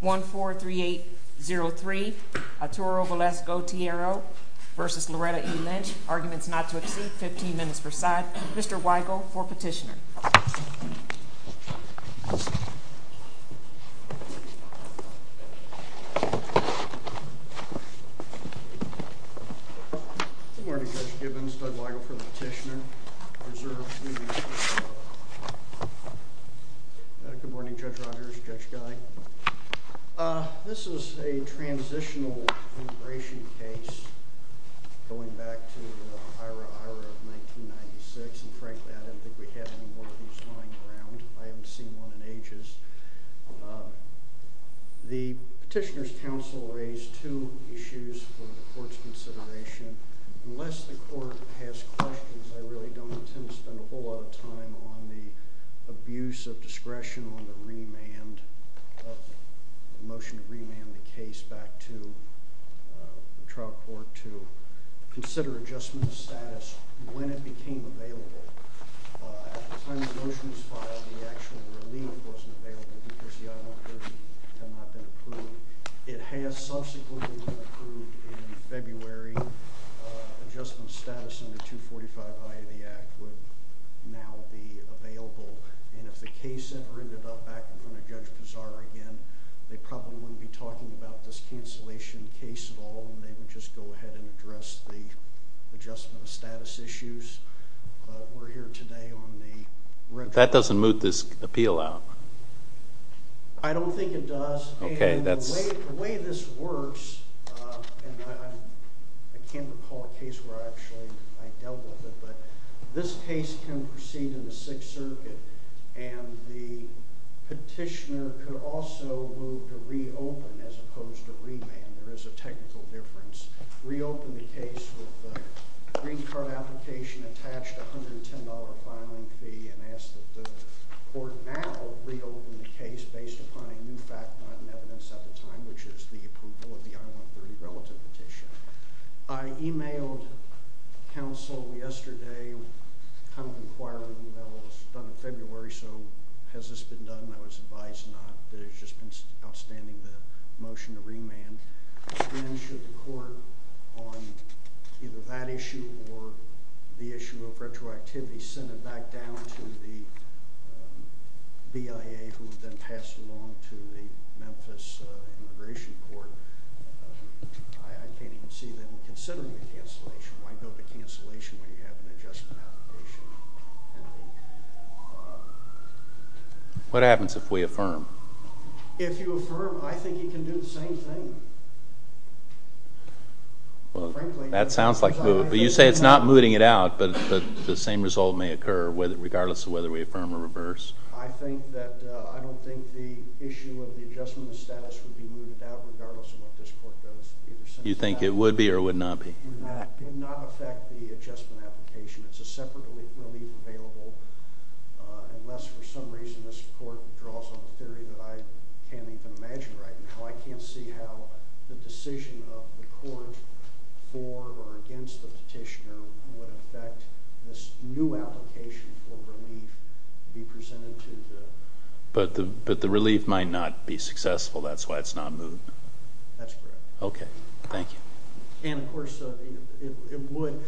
143803 Arturo Velasco Tijero v. Loretta E. Lynch Arguments not to exceed 15 minutes per side Mr. Weigel for petitioner Good morning Judge Gibbons, Doug Weigel for the petitioner Good morning Judge Rodgers, Judge Guy This is a transitional immigration case going back to the IHRA, IHRA of 1996 and frankly I don't think we have any more of these lying around I haven't seen one in ages The petitioner's counsel raised two issues for the court's consideration Unless the court has questions, I really don't intend to spend a whole lot of time on the abuse of discretion on the remand of the motion to remand the case back to the trial court to consider adjustment of status when it became available At the time the motion was filed, the actual relief wasn't available because the I-130 had not been approved It has subsequently been approved in February Adjustment of status under 245 I of the Act would now be available And if the case ever ended up back in front of Judge Pizarro again, they probably wouldn't be talking about this cancellation case at all and they would just go ahead and address the adjustment of status issues But we're here today on the retro... That doesn't moot this appeal out I don't think it does The way this works, and I can't recall a case where I actually dealt with it but this case can proceed in the Sixth Circuit and the petitioner could also move to reopen as opposed to remand There is a technical difference Reopen the case with the green card application attached $110 filing fee and ask that the court now reopen the case based upon a new fact not in evidence at the time which is the approval of the I-130 relative petition I emailed counsel yesterday kind of inquiring, you know, it was done in February, so has this been done? I was advised not, that it's just been outstanding the motion to remand Again, should the court on either that issue or the issue of retroactivity send it back down to the BIA who would then pass it along to the Memphis Immigration Court I can't even see them considering the cancellation Why build a cancellation when you have an adjustment application? What happens if we affirm? If you affirm, I think you can do the same thing That sounds like, you say it's not mooting it out but the same result may occur regardless of whether we affirm or reverse I don't think the issue of the adjustment of status would be mooted out regardless of what this court does You think it would be or would not be? It would not affect the adjustment application It's a separate relief available Unless for some reason this court draws on a theory that I can't even imagine right now I can't see how the decision of the court for or against the petitioner would affect this new application for relief to be presented to the But the relief might not be successful, that's why it's not mooted? That's correct Okay, thank you And of course it would,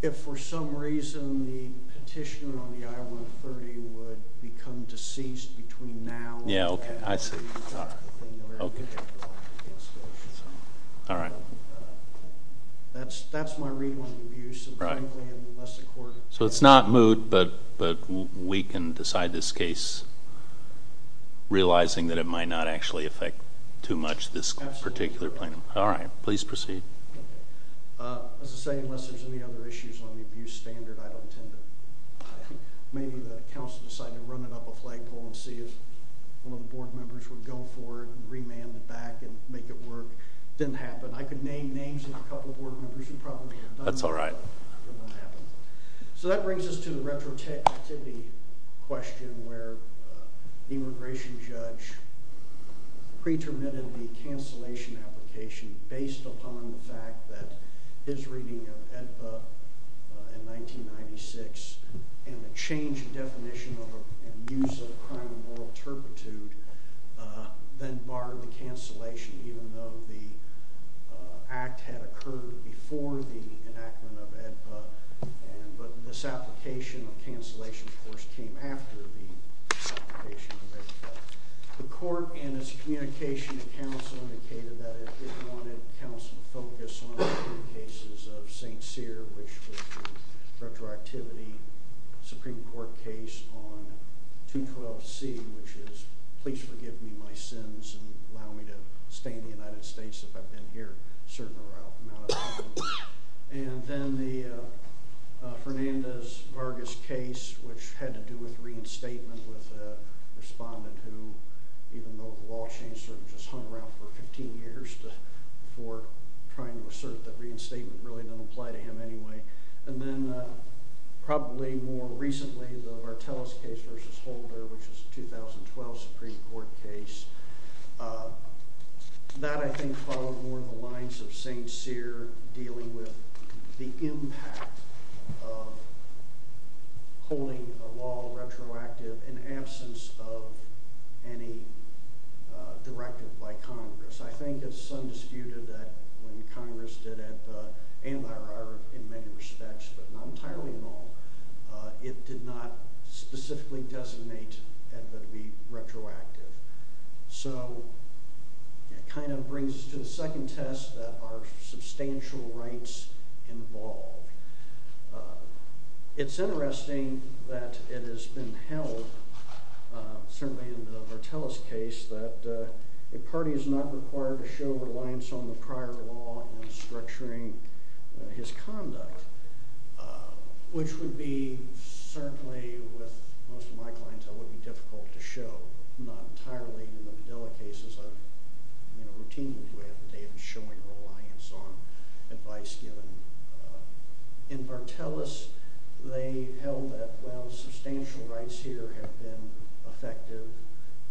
if for some reason the petitioner on the I-130 would become deceased between now and... Yeah, okay, I see Alright That's my read on the abuse Right So it's not moot, but we can decide this case realizing that it might not actually affect too much this particular plaintiff Alright, please proceed As I say, unless there's any other issues on the abuse standard I don't intend to... Maybe the council decided to run it up a flagpole and see if one of the board members would go for it and remand it back and make it work Didn't happen I could name names of a couple board members who probably have done that That's alright So that brings us to the retroactivity question where the immigration judge pre-terminated the cancellation application based upon the fact that his reading of AEDPA in 1996 and the change in definition and use of the crime of moral turpitude then barred the cancellation even though the act had occurred before the enactment of AEDPA But this application of cancellation, of course, came after the application of AEDPA The court in its communication to council indicated that it wanted council to focus on the cases of St. Cyr, which was a retroactivity Supreme Court case on 212C which is, please forgive me my sins and allow me to stay in the United States if I've been here a certain amount of time And then the Fernandez-Vargas case, which had to do with reinstatement with a respondent who, even though the law changed, sort of just hung around for 15 years before trying to assert that reinstatement really didn't apply to him anyway And then probably more recently, the Vartelis case versus Holder which is a 2012 Supreme Court case That, I think, followed more the lines of St. Cyr dealing with the impact of holding a law retroactive in absence of any directive by Congress I think it's undisputed that when Congress did AEDPA and there are in many respects, but not entirely in all it did not specifically designate AEDPA to be retroactive So, it kind of brings us to the second test that are substantial rights involved It's interesting that it has been held certainly in the Vartelis case that a party is not required to show reliance on the prior law in structuring his conduct which would be, certainly, with most of my clients that would be difficult to show not entirely in the Videla cases I've routinely had the day of showing reliance on advice given In Vartelis, they held that, well, substantial rights here have been effective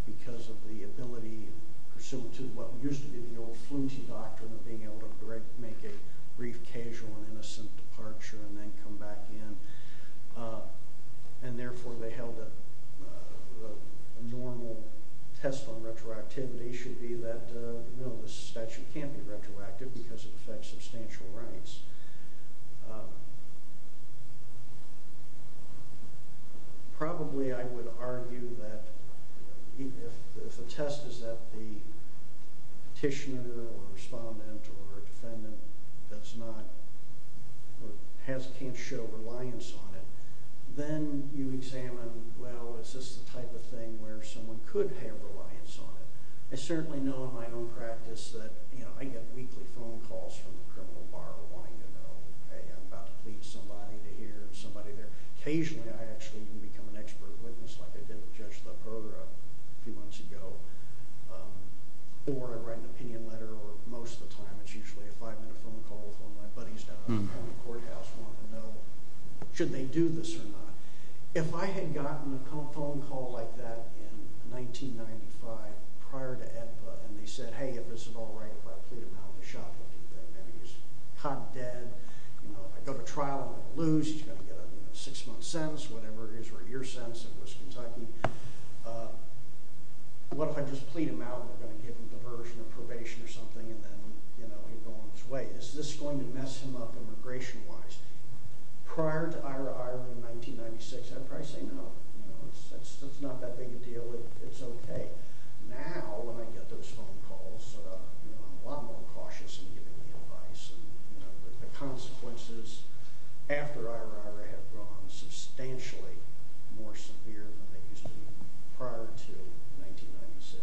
because of the ability, pursuant to what used to be the old fluency doctrine of being able to make a brief, casual, and innocent departure and then come back in and therefore, they held that a normal test on retroactivity should be that, no, this statute can't be retroactive because it affects substantial rights Probably, I would argue that if the test is that the petitioner or respondent or defendant does not, or can't show reliance on it then you examine, well, is this the type of thing where someone could have reliance on it I certainly know in my own practice that I get weekly phone calls from the criminal bar wanting to know I'm about to plead somebody to hear somebody there a few months ago or I write an opinion letter or most of the time it's usually a five minute phone call with one of my buddies down at the county courthouse wanting to know, should they do this or not If I had gotten a phone call like that in 1995 prior to AEDPA and they said, hey, if this is all right, if I plead him out the shot will be there maybe he's hot dead I go to trial, I lose he's got to get a six month sentence whatever it is, or a year sentence what if I just plead him out we're going to give him diversion or probation or something and then he'll go on his way is this going to mess him up immigration wise prior to IRA, IRA in 1996 I'd probably say no it's not that big a deal it's okay now, when I get those phone calls I'm a lot more cautious in giving the advice the consequences after IRA, IRA have grown substantially more severe than they used to prior to 1996 I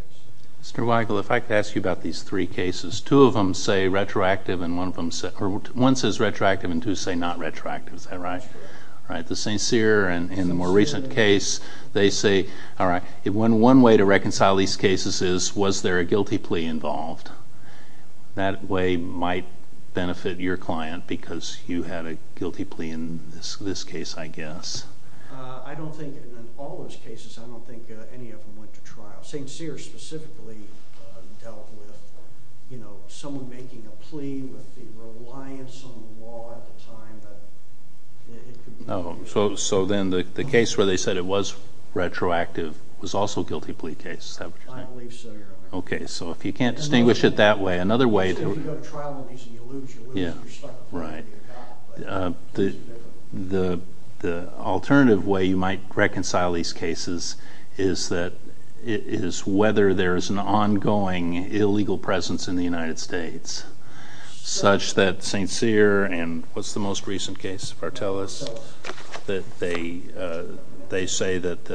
don't think, in all those cases I don't think any of them went to trial St. Cyr specifically dealt with someone making a plea with the reliance on the law at the time that it could be I believe so, Your Honor If you go to trial and you lose, you lose your stuff the alternative way you might reconcile these cases is whether there is an ongoing illegal presence in the United States such that St. Cyr and what's the most recent case, Vartelis they say that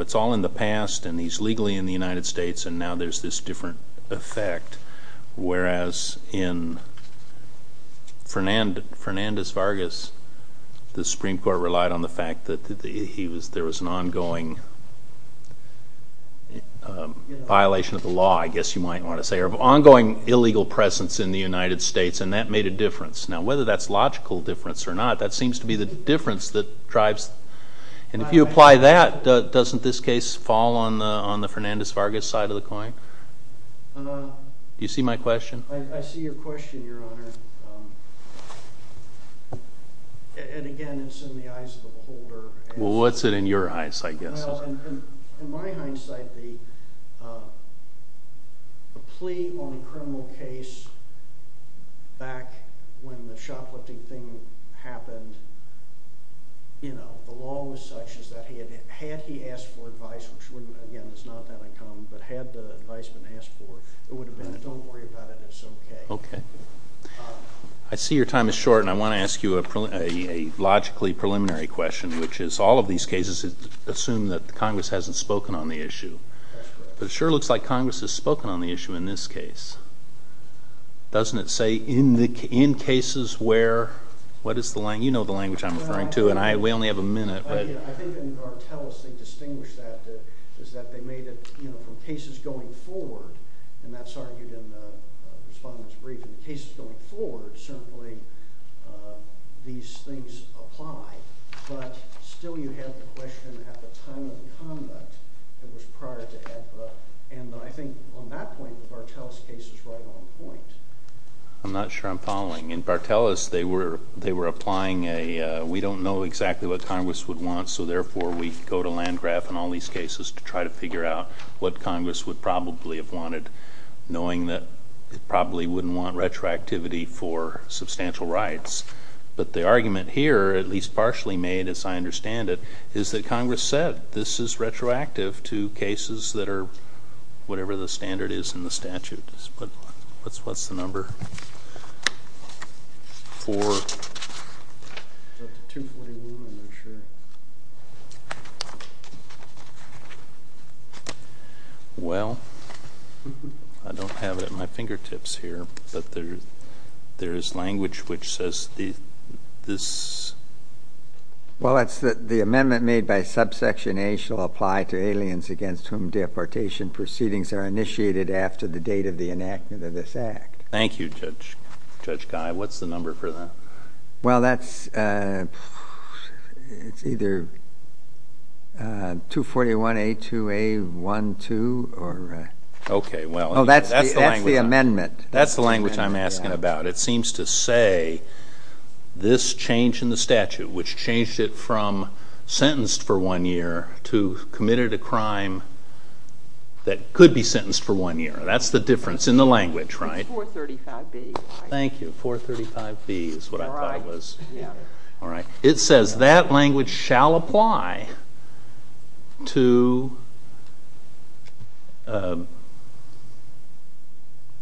it's all in the past and he's legally in the United States and now there's this different effect whereas in Fernandez-Vargas the Supreme Court relied on the fact that there was an ongoing violation of the law, I guess you might want to say or ongoing illegal presence in the United States and that made a difference now, whether that's logical difference or not that seems to be the difference that drives and if you apply that doesn't this case fall on the Fernandez-Vargas side of the coin? Do you see my question? I see your question, Your Honor and again, it's in the eyes of the beholder Well, what's it in your eyes, I guess? In my hindsight, the plea on a criminal case back when the shoplifting thing happened you know, the law was such that had he asked for advice which again, is not that uncommon but had the advice been asked for it would have been, don't worry about it, it's okay Okay I see your time is short and I want to ask you a logically preliminary question which is, all of these cases assume that Congress hasn't spoken on the issue but it sure looks like Congress has spoken on the issue in this case doesn't it say, in cases where you know the language I'm referring to and we only have a minute I think in Barteles they distinguish that is that they made it, you know, from cases going forward and that's argued in the respondent's brief in cases going forward, certainly these things apply but still you have the question at the time of the conduct that was prior to HEPA and I think on that point, the Barteles case is right on point I'm not sure I'm following In Barteles, they were applying a we don't know exactly what Congress would want so therefore we go to Landgraf and all these cases to try to figure out what Congress would probably have wanted knowing that it probably wouldn't want retroactivity for substantial rights but the argument here, at least partially made as I understand it is that Congress said this is retroactive to cases that are whatever the standard is in the statute what's the number? 4 well I don't have it at my fingertips here but there is language which says this well it's the amendment made by subsection A shall apply to aliens against whom deportation proceedings are initiated after the date of the enactment of this act thank you Judge Guy what's the number for that? well that's it's either 241A2A12 that's the amendment that's the language I'm asking about it seems to say this change in the statute which changed it from sentenced for one year to committed a crime that could be sentenced for one year that's the difference in the language, right? it's 435B thank you, 435B is what I thought it was alright it says that language shall apply to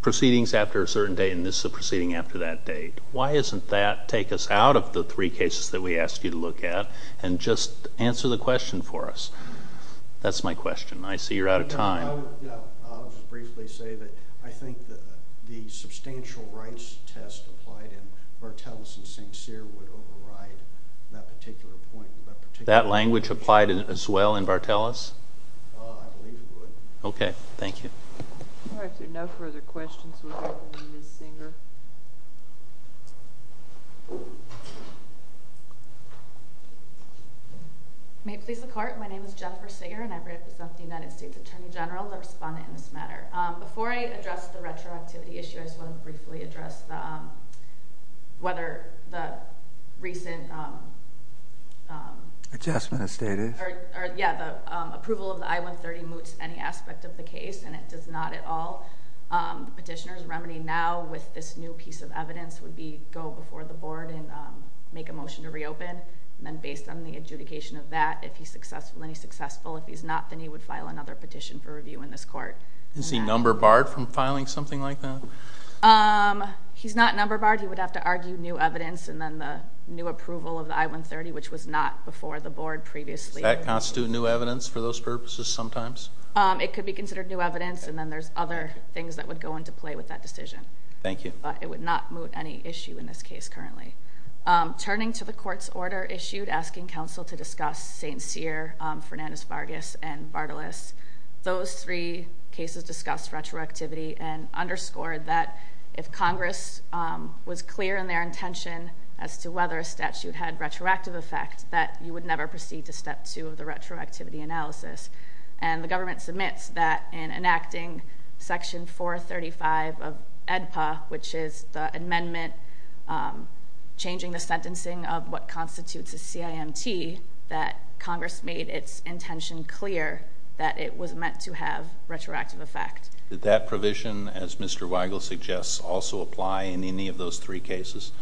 proceedings after a certain date and this is a proceeding after that date why doesn't that take us out of the three cases that we asked you to look at and just answer the question for us that's my question I see you're out of time I'll just briefly say that I think the substantial rights test applied in Vartelis and St. Cyr would override that particular point that language applied as well in Vartelis? I believe it would ok, thank you no further questions without Ms. Singer may it please the court my name is Jennifer Singer and I represent the United States Attorney General the respondent in this matter before I address the retroactivity issue I just want to briefly address whether the recent adjustment of status approval of the I-130 moots any aspect of the case and it does not at all the petitioner's remedy now with this new piece of evidence would be go before the board and make a motion to reopen and then based on the adjudication of that if he's successful, and he's successful if he's not, then he would file another petition for review in this court is he number barred from filing something like that? he's not number barred he would have to argue new evidence and then the new approval of the I-130 which was not before the board previously does that constitute new evidence for those purposes sometimes? it could be considered new evidence and then there's other things that would go into play with that decision but it would not moot any issue in this case currently turning to the court's order issued asking council to discuss St. Cyr Fernandes Vargas and Vardalos those three cases discussed retroactivity and underscored that if Congress was clear in their intention as to whether a statute had retroactive effect that you would never proceed to step two of the retroactivity analysis and the government submits that in enacting section 435 of EDPA which is the amendment changing the sentencing of what constitutes a CIMT that Congress made its intention clear that it was meant to have retroactive effect did that provision as Mr. Weigel suggests also apply in any of those three cases?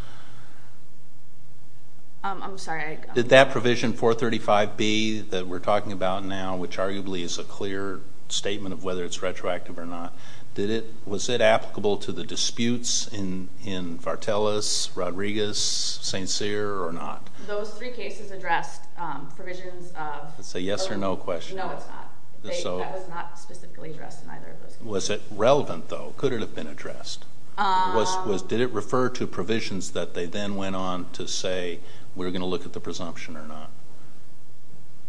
I'm sorry did that provision 435B that we're talking about now which arguably is a clear statement of whether it's retroactive or not was it applicable to Vardalos, Rodriguez, St. Cyr or not? Those three cases addressed provisions of it's a yes or no question that was not specifically addressed in either of those cases. Was it relevant though? Could it have been addressed? Did it refer to provisions that they then went on to say we're going to look at the presumption or not?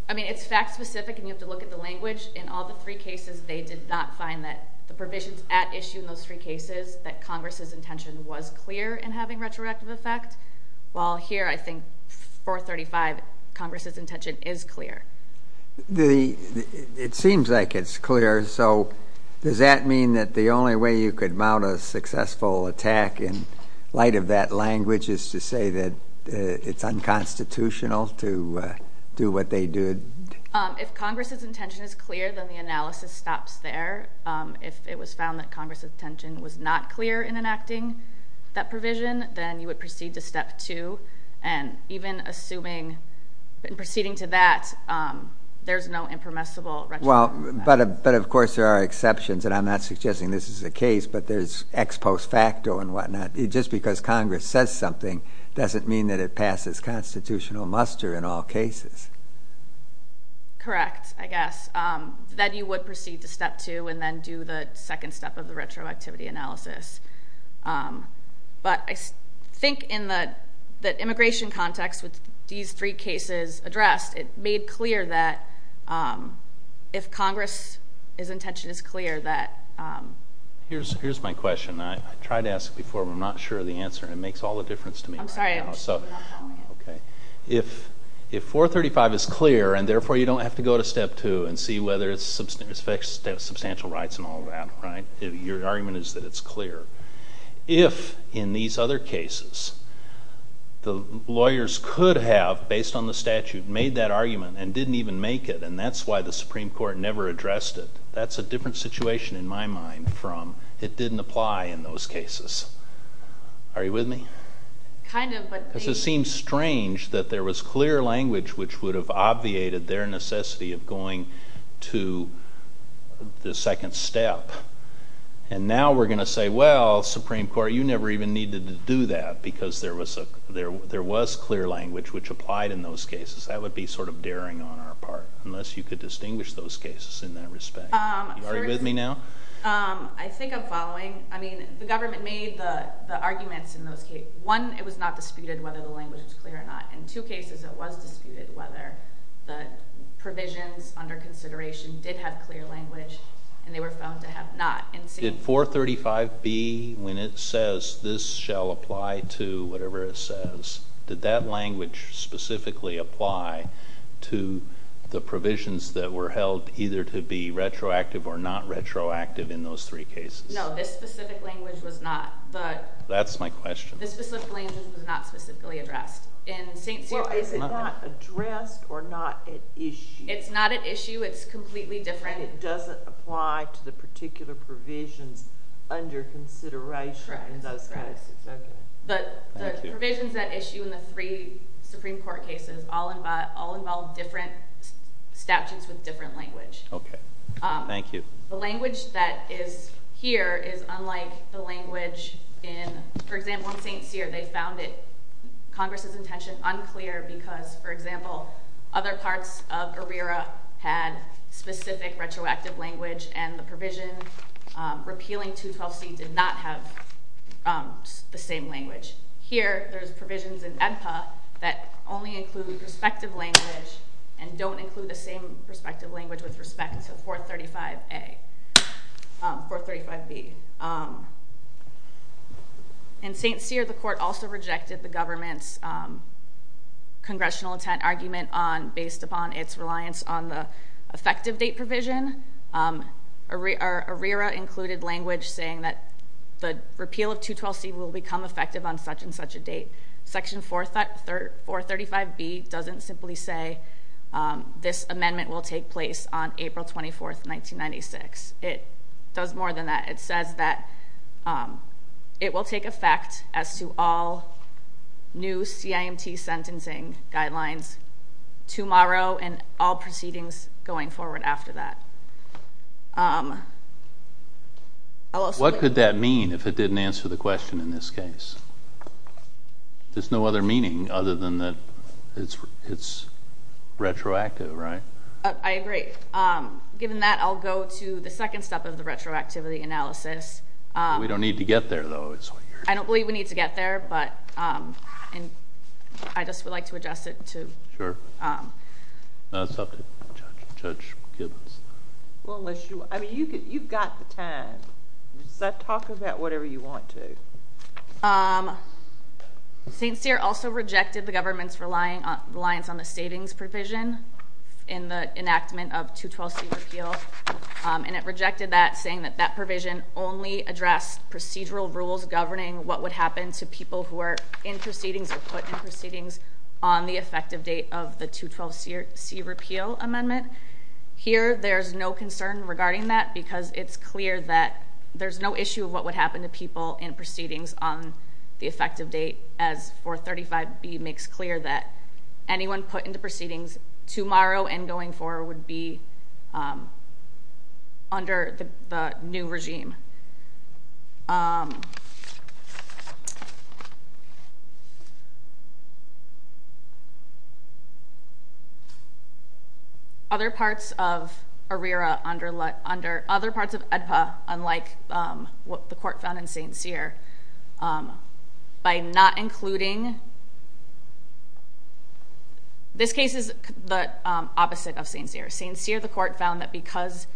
I mean it's fact specific and you have to look at the language in all the three cases they did not find that the provisions at issue in those three cases that Congress's intention was clear in having retroactive effect while here I think 435 Congress's intention is clear. It seems like it's clear so does that mean that the only way you could mount a successful attack in light of that language is to say that it's unconstitutional to do what they did? If Congress's intention is clear then the analysis stops there. If it was found that Congress's intention was not clear in enacting that provision then you would proceed to step two and even assuming in proceeding to that there's no impermissible retroactive effect. But of course there are exceptions and I'm not suggesting this is the case but there's ex post facto and what not. Just because Congress says something doesn't mean that it is one of those cases. Correct, I guess. Then you would proceed to step two and then do the second step of the retroactivity analysis. But I think in the immigration context with these three cases addressed it made clear that if Congress's intention is clear that Here's my question. I tried to ask before but I'm not sure of the answer and it makes all the difference to me right now. If 435 is clear and therefore you don't have to go to step two and see whether it's substantial rights and all that. Your argument is that it's clear. If in these other cases the lawyers could have based on the statute made that argument and didn't even make it and that's why the Supreme Court never addressed it. That's a different situation in my mind from it didn't apply in those cases. Are you with me? It seems strange that there was clear language which would have obviated their necessity of going to the second step. And now we're going to say well, Supreme Court, you never even needed to do that because there was clear language which applied in those cases. That would be sort of daring on our part. Unless you could distinguish those cases in that respect. Are you with me now? I think I'm following. I mean, the government made the arguments in those cases. One, it was not disputed whether the language was clear or not. In two cases it was disputed whether the provisions under consideration did have clear language and they were found to have not. Did 435B when it says this shall apply to whatever it says, did that language specifically apply to the provisions that were held either to be retroactive or not retroactive in those three cases? No, this specific language was not. That's my question. This specific language was not specifically addressed. Is it not addressed or not at issue? It's not at issue. It's completely different. It doesn't apply to the particular provisions under consideration in those cases. But the provisions at issue in the three Supreme Court cases all involve different statutes with different language. Okay. Thank you. The language that is here is unlike the language in, for example, St. Cyr. They found it, Congress's intention, unclear because, for example, other parts of ARERA had specific retroactive language and the provision repealing 212C did not have the same language. Here, there's provisions in AEDPA that only include respective language and don't include the same respective language with respect to 435A, 435B. In St. Cyr, the court also rejected the government's congressional intent argument based upon its reliance on the effective date provision. ARERA included language saying that the repeal of 212C will become effective on such and such a date. Section 435B doesn't simply say this amendment will take place on April 24, 1996. It does more than that. It says that it will take effect as to all new CIMT sentencing guidelines tomorrow and all proceedings going forward after that. What could that mean if it didn't answer the question in this case? There's no other meaning other than that it's retroactive, right? I agree. Given that, I'll go to the second step of the retroactivity analysis. We don't need to get there, though. I don't believe we need to get there, but I just would like to adjust it to... Sure. Judge Gibbons. You've got the time. Does that talk about whatever you want to? St. Cyr also rejected the government's reliance on the statings provision in the enactment of 212C repeal. It rejected that, saying that that provision only addressed procedural rules governing what would happen to people who are in proceedings or put in proceedings on the effective date of the 212C repeal amendment. Here, there's no concern regarding that because it's clear that there's no issue of what would happen to people in proceedings on the effective date, as 435B makes clear that anyone put into proceedings tomorrow and going forward would be under the new regime. Other parts of ARERA under... other parts of AEDPA, unlike what the court found in St. Cyr, by not including... This case is the opposite of St. Cyr. St. Cyr, the court found that because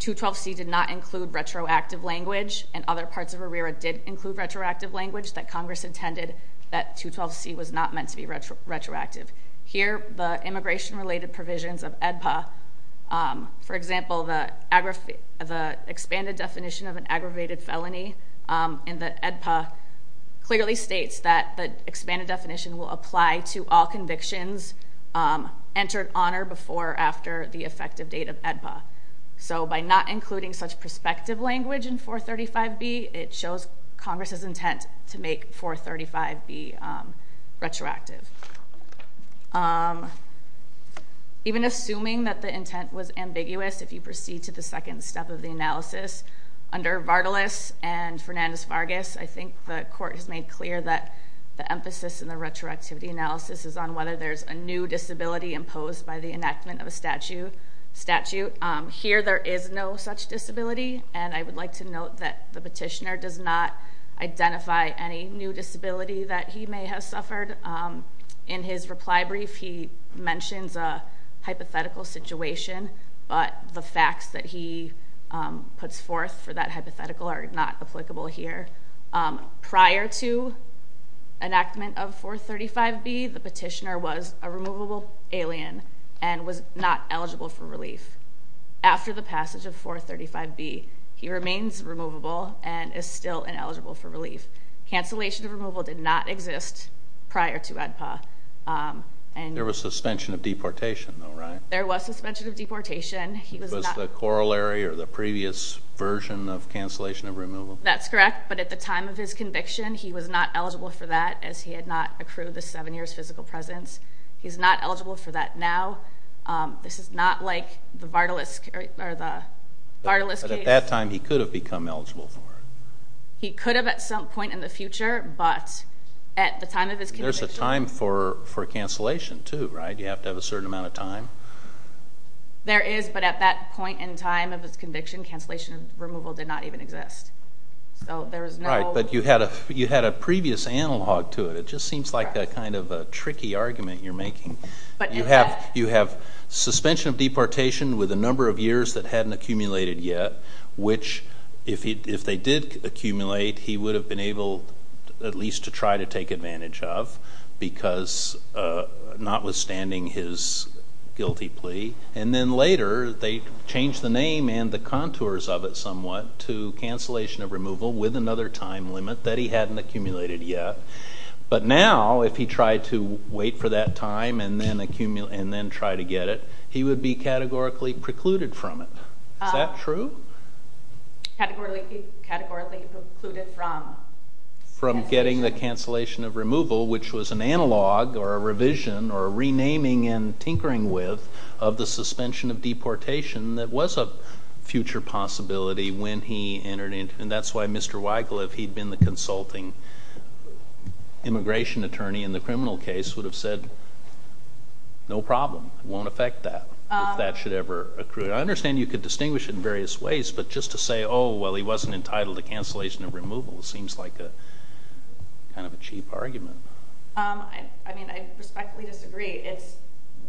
212C did not include retroactive language, and other parts of ARERA did include retroactive language, that Congress intended that 212C was not meant to be retroactive. Here, the immigration related provisions of AEDPA, for example, the expanded definition of an aggravated felony in the AEDPA clearly states that the expanded definition will apply to all convictions entered on or before or after the effective date of AEDPA. By not including such prospective language in 435B, it shows Congress's intent to make 435B retroactive. Even assuming that the intent was to make 435B retroactive, there is no such disability analysis under Vartulis and Fernandez-Vargas. I think the court has made clear that the emphasis in the retroactivity analysis is on whether there's a new disability imposed by the enactment of a statute. Here, there is no such disability, and I would like to note that the petitioner does not identify any new disability that he may have suffered. In his reply brief, he mentions a hypothetical situation, but the facts that he puts forth for that hypothetical are not applicable here. Prior to enactment of 435B, the petitioner was a removable alien and was not eligible for relief. After the passage of 435B, he remains removable and is still ineligible for relief. Cancellation of removal did not exist prior to ADPA. There was suspension of deportation, though, right? There was suspension of deportation. Was the corollary or the previous version of cancellation of removal? That's correct, but at the time of his conviction, he was not eligible for that, as he had not accrued the seven years physical presence. He's not eligible for that now. This is not like the Vartulis case. But at that time, he could have become eligible for it. He could have at some point in the future, but at the time of his conviction... There's a time for cancellation, too, right? You have to have a certain amount of time. There is, but at that point in time of his conviction, cancellation of removal did not even exist. Right, but you had a previous analogue to it. It just seems like that kind of tricky argument you're making. You have suspension of deportation with a number of years that hadn't accumulated yet, which if they did accumulate, he would have been able at least to try to take advantage of, because notwithstanding his guilty plea. And then later, they changed the name and the contours of it somewhat to cancellation of removal with another time limit that he hadn't accumulated yet. But now, if he tried to wait for that time and then try to get it, he would be categorically precluded from it. Is that true? Categorically precluded from From getting the cancellation of removal, which was an analogue or a revision or a renaming and tinkering with of the suspension of deportation that was a future possibility when he entered into... And that's why Mr. Wycliffe, he'd been the consulting immigration attorney in the criminal case, would have said no problem. Won't affect that, if that should ever accrue. I understand you could distinguish it in various ways, but just to say, oh, well, he wasn't entitled to cancellation of removal seems like a kind of a cheap argument. I respectfully disagree.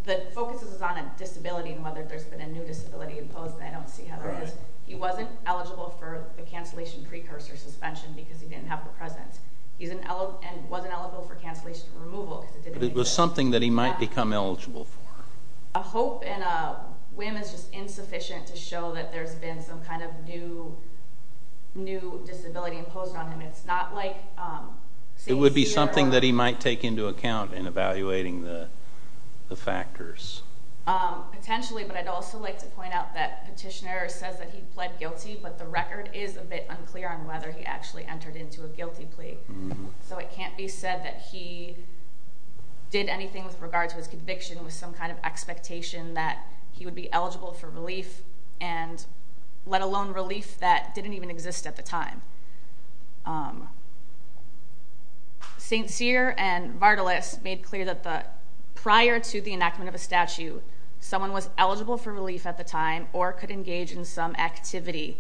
The focus is on a disability and whether there's been a new disability imposed and I don't see how that is. He wasn't eligible for the cancellation precursor suspension because he didn't have the presence. He wasn't eligible for cancellation of removal because it didn't exist. But it was something that he might become eligible for. A hope and a whim is just insufficient to show that there's been some kind of new disability imposed on him. It's not like... It would be something that he might take into account in evaluating the factors. Potentially, but I'd also like to point out that petitioner says that he pled guilty, but the record is a bit unclear on whether he actually entered into a guilty plea. So it can't be said that he did anything with regard to his conviction with some kind of expectation that he would be eligible for relief and let alone relief that didn't even exist at the time. St. Cyr and Vardalos made clear that prior to the enactment of a statute someone was eligible for relief at the time or could engage in some activity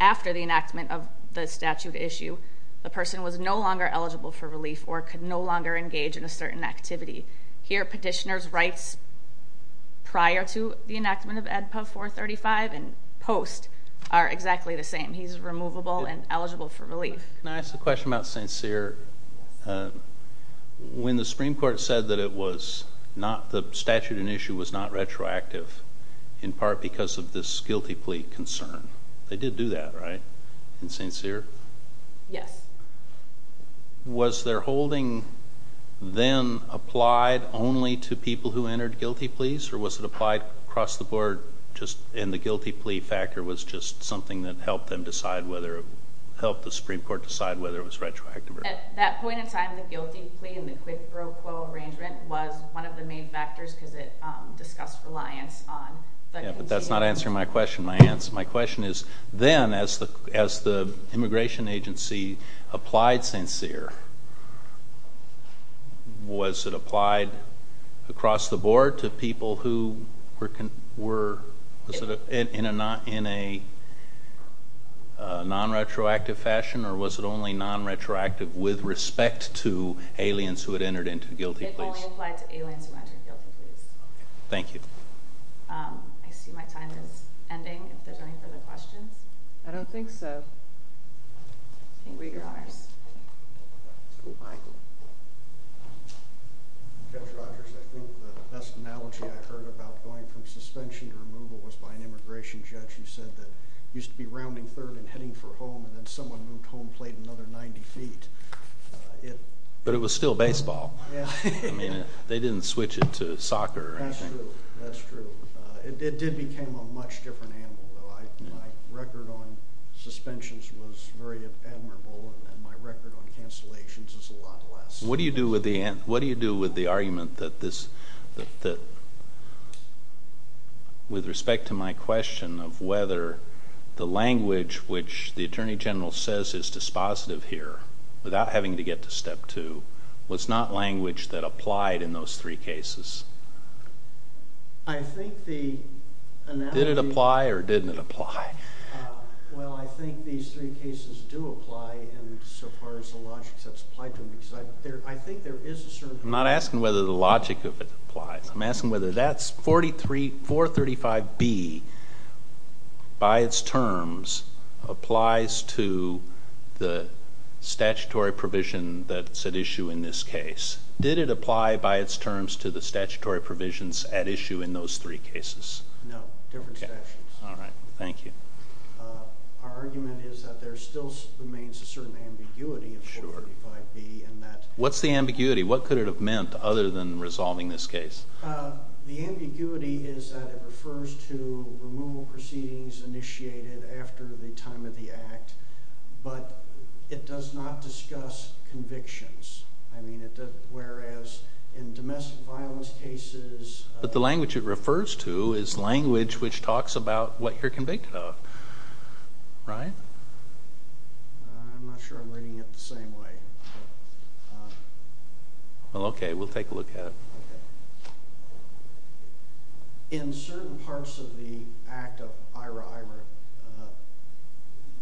after the enactment of the statute issue. The person was no longer eligible for relief or could no longer engage in a certain activity. Here petitioner writes prior to the enactment of EDPA 435 and post are exactly the same. He's removable and eligible for relief. Can I ask a question about St. Cyr? When the Supreme Court said that it was not the statute in issue was not retroactive in part because of this guilty plea concern. They did do that, right? In St. Cyr? Yes. Was their holding then applied only to people who entered guilty pleas or was it applied across the board and the guilty plea factor was just something that helped them decide whether helped the Supreme Court decide whether it was retroactive? At that point in time the guilty plea and the quid pro quo arrangement was one of the main factors because it discussed reliance on But that's not answering my question. My question is then as the immigration agency applied St. Cyr was it applied across the board to people who were in a non-retroactive fashion or was it only non-retroactive with respect to aliens who had entered into guilty pleas? It only applied to aliens who entered guilty pleas. Thank you. I see my time is ending if there's any further questions. I don't think so. Thank you. Judge Rogers, I think the best analogy I heard about going from suspension to removal was by an immigration judge who said that it used to be rounding third and heading for home and then someone moved home plate another 90 feet. But it was still baseball. They didn't switch it to soccer. That's true. It did become a much different animal. My record on suspensions was very admirable and my record on cancellations is a lot less. What do you do with the argument that with respect to my question of whether the language which the Attorney General says is dispositive here without having to get to step two was not language that applied in those three cases? Did it apply or didn't it apply? Well, I think these three cases do apply in so far as the logic that's applied to them. I think there is a certain... I'm not asking whether the logic of it applies. I'm asking whether that 435B by its terms applies to the statutory provision that's at issue in this case. Did it apply by its terms to the statutory provisions at issue in those three cases? No. Different statutes. Our argument is that there still remains a certain ambiguity in 435B. What's the ambiguity? What could it have meant other than resolving this case? The ambiguity is that it refers to removal proceedings initiated after the time of the act, but it does not discuss convictions. Whereas in domestic violence cases... But the language it refers to is language which talks about what you're convicted of. Right? I'm not sure I'm reading it the same way. Well, okay. We'll take a look at it. In certain parts of the act of IRA,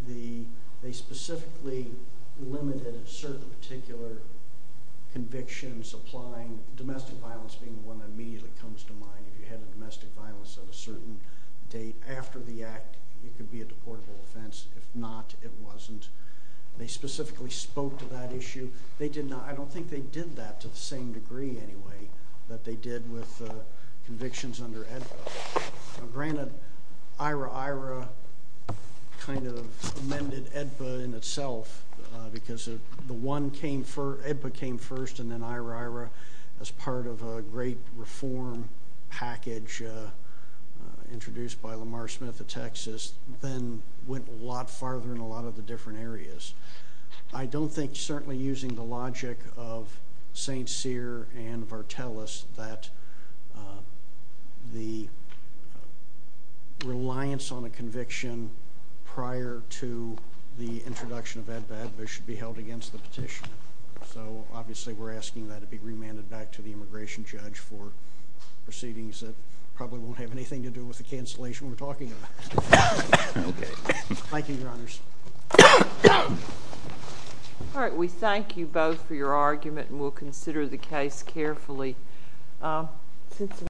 they specifically limited certain particular convictions applying domestic violence being the one that immediately comes to mind. If you had a domestic violence at a certain date after the act, it could be a deportable offense. If not, it wasn't. They specifically spoke to that issue. They did not... I don't think they did that to the same degree, anyway, that they did with convictions under EDPA. Granted, IRA-IRA kind of amended EDPA in itself because EDPA came first and then IRA-IRA as part of a great reform package introduced by Lamar Smith of Texas then went a lot farther in a lot of the different areas. I don't think, certainly using the logic of St. Cyr and Vartelis, that the reliance on a conviction prior to the introduction of EDPA should be held against the petition. Obviously, we're asking that it be remanded back to the immigration judge for proceedings that probably won't have anything to do with the cancellation we're talking about. Thank you, Your Honors. We thank you both for your argument and we'll consider the case carefully. Thank you.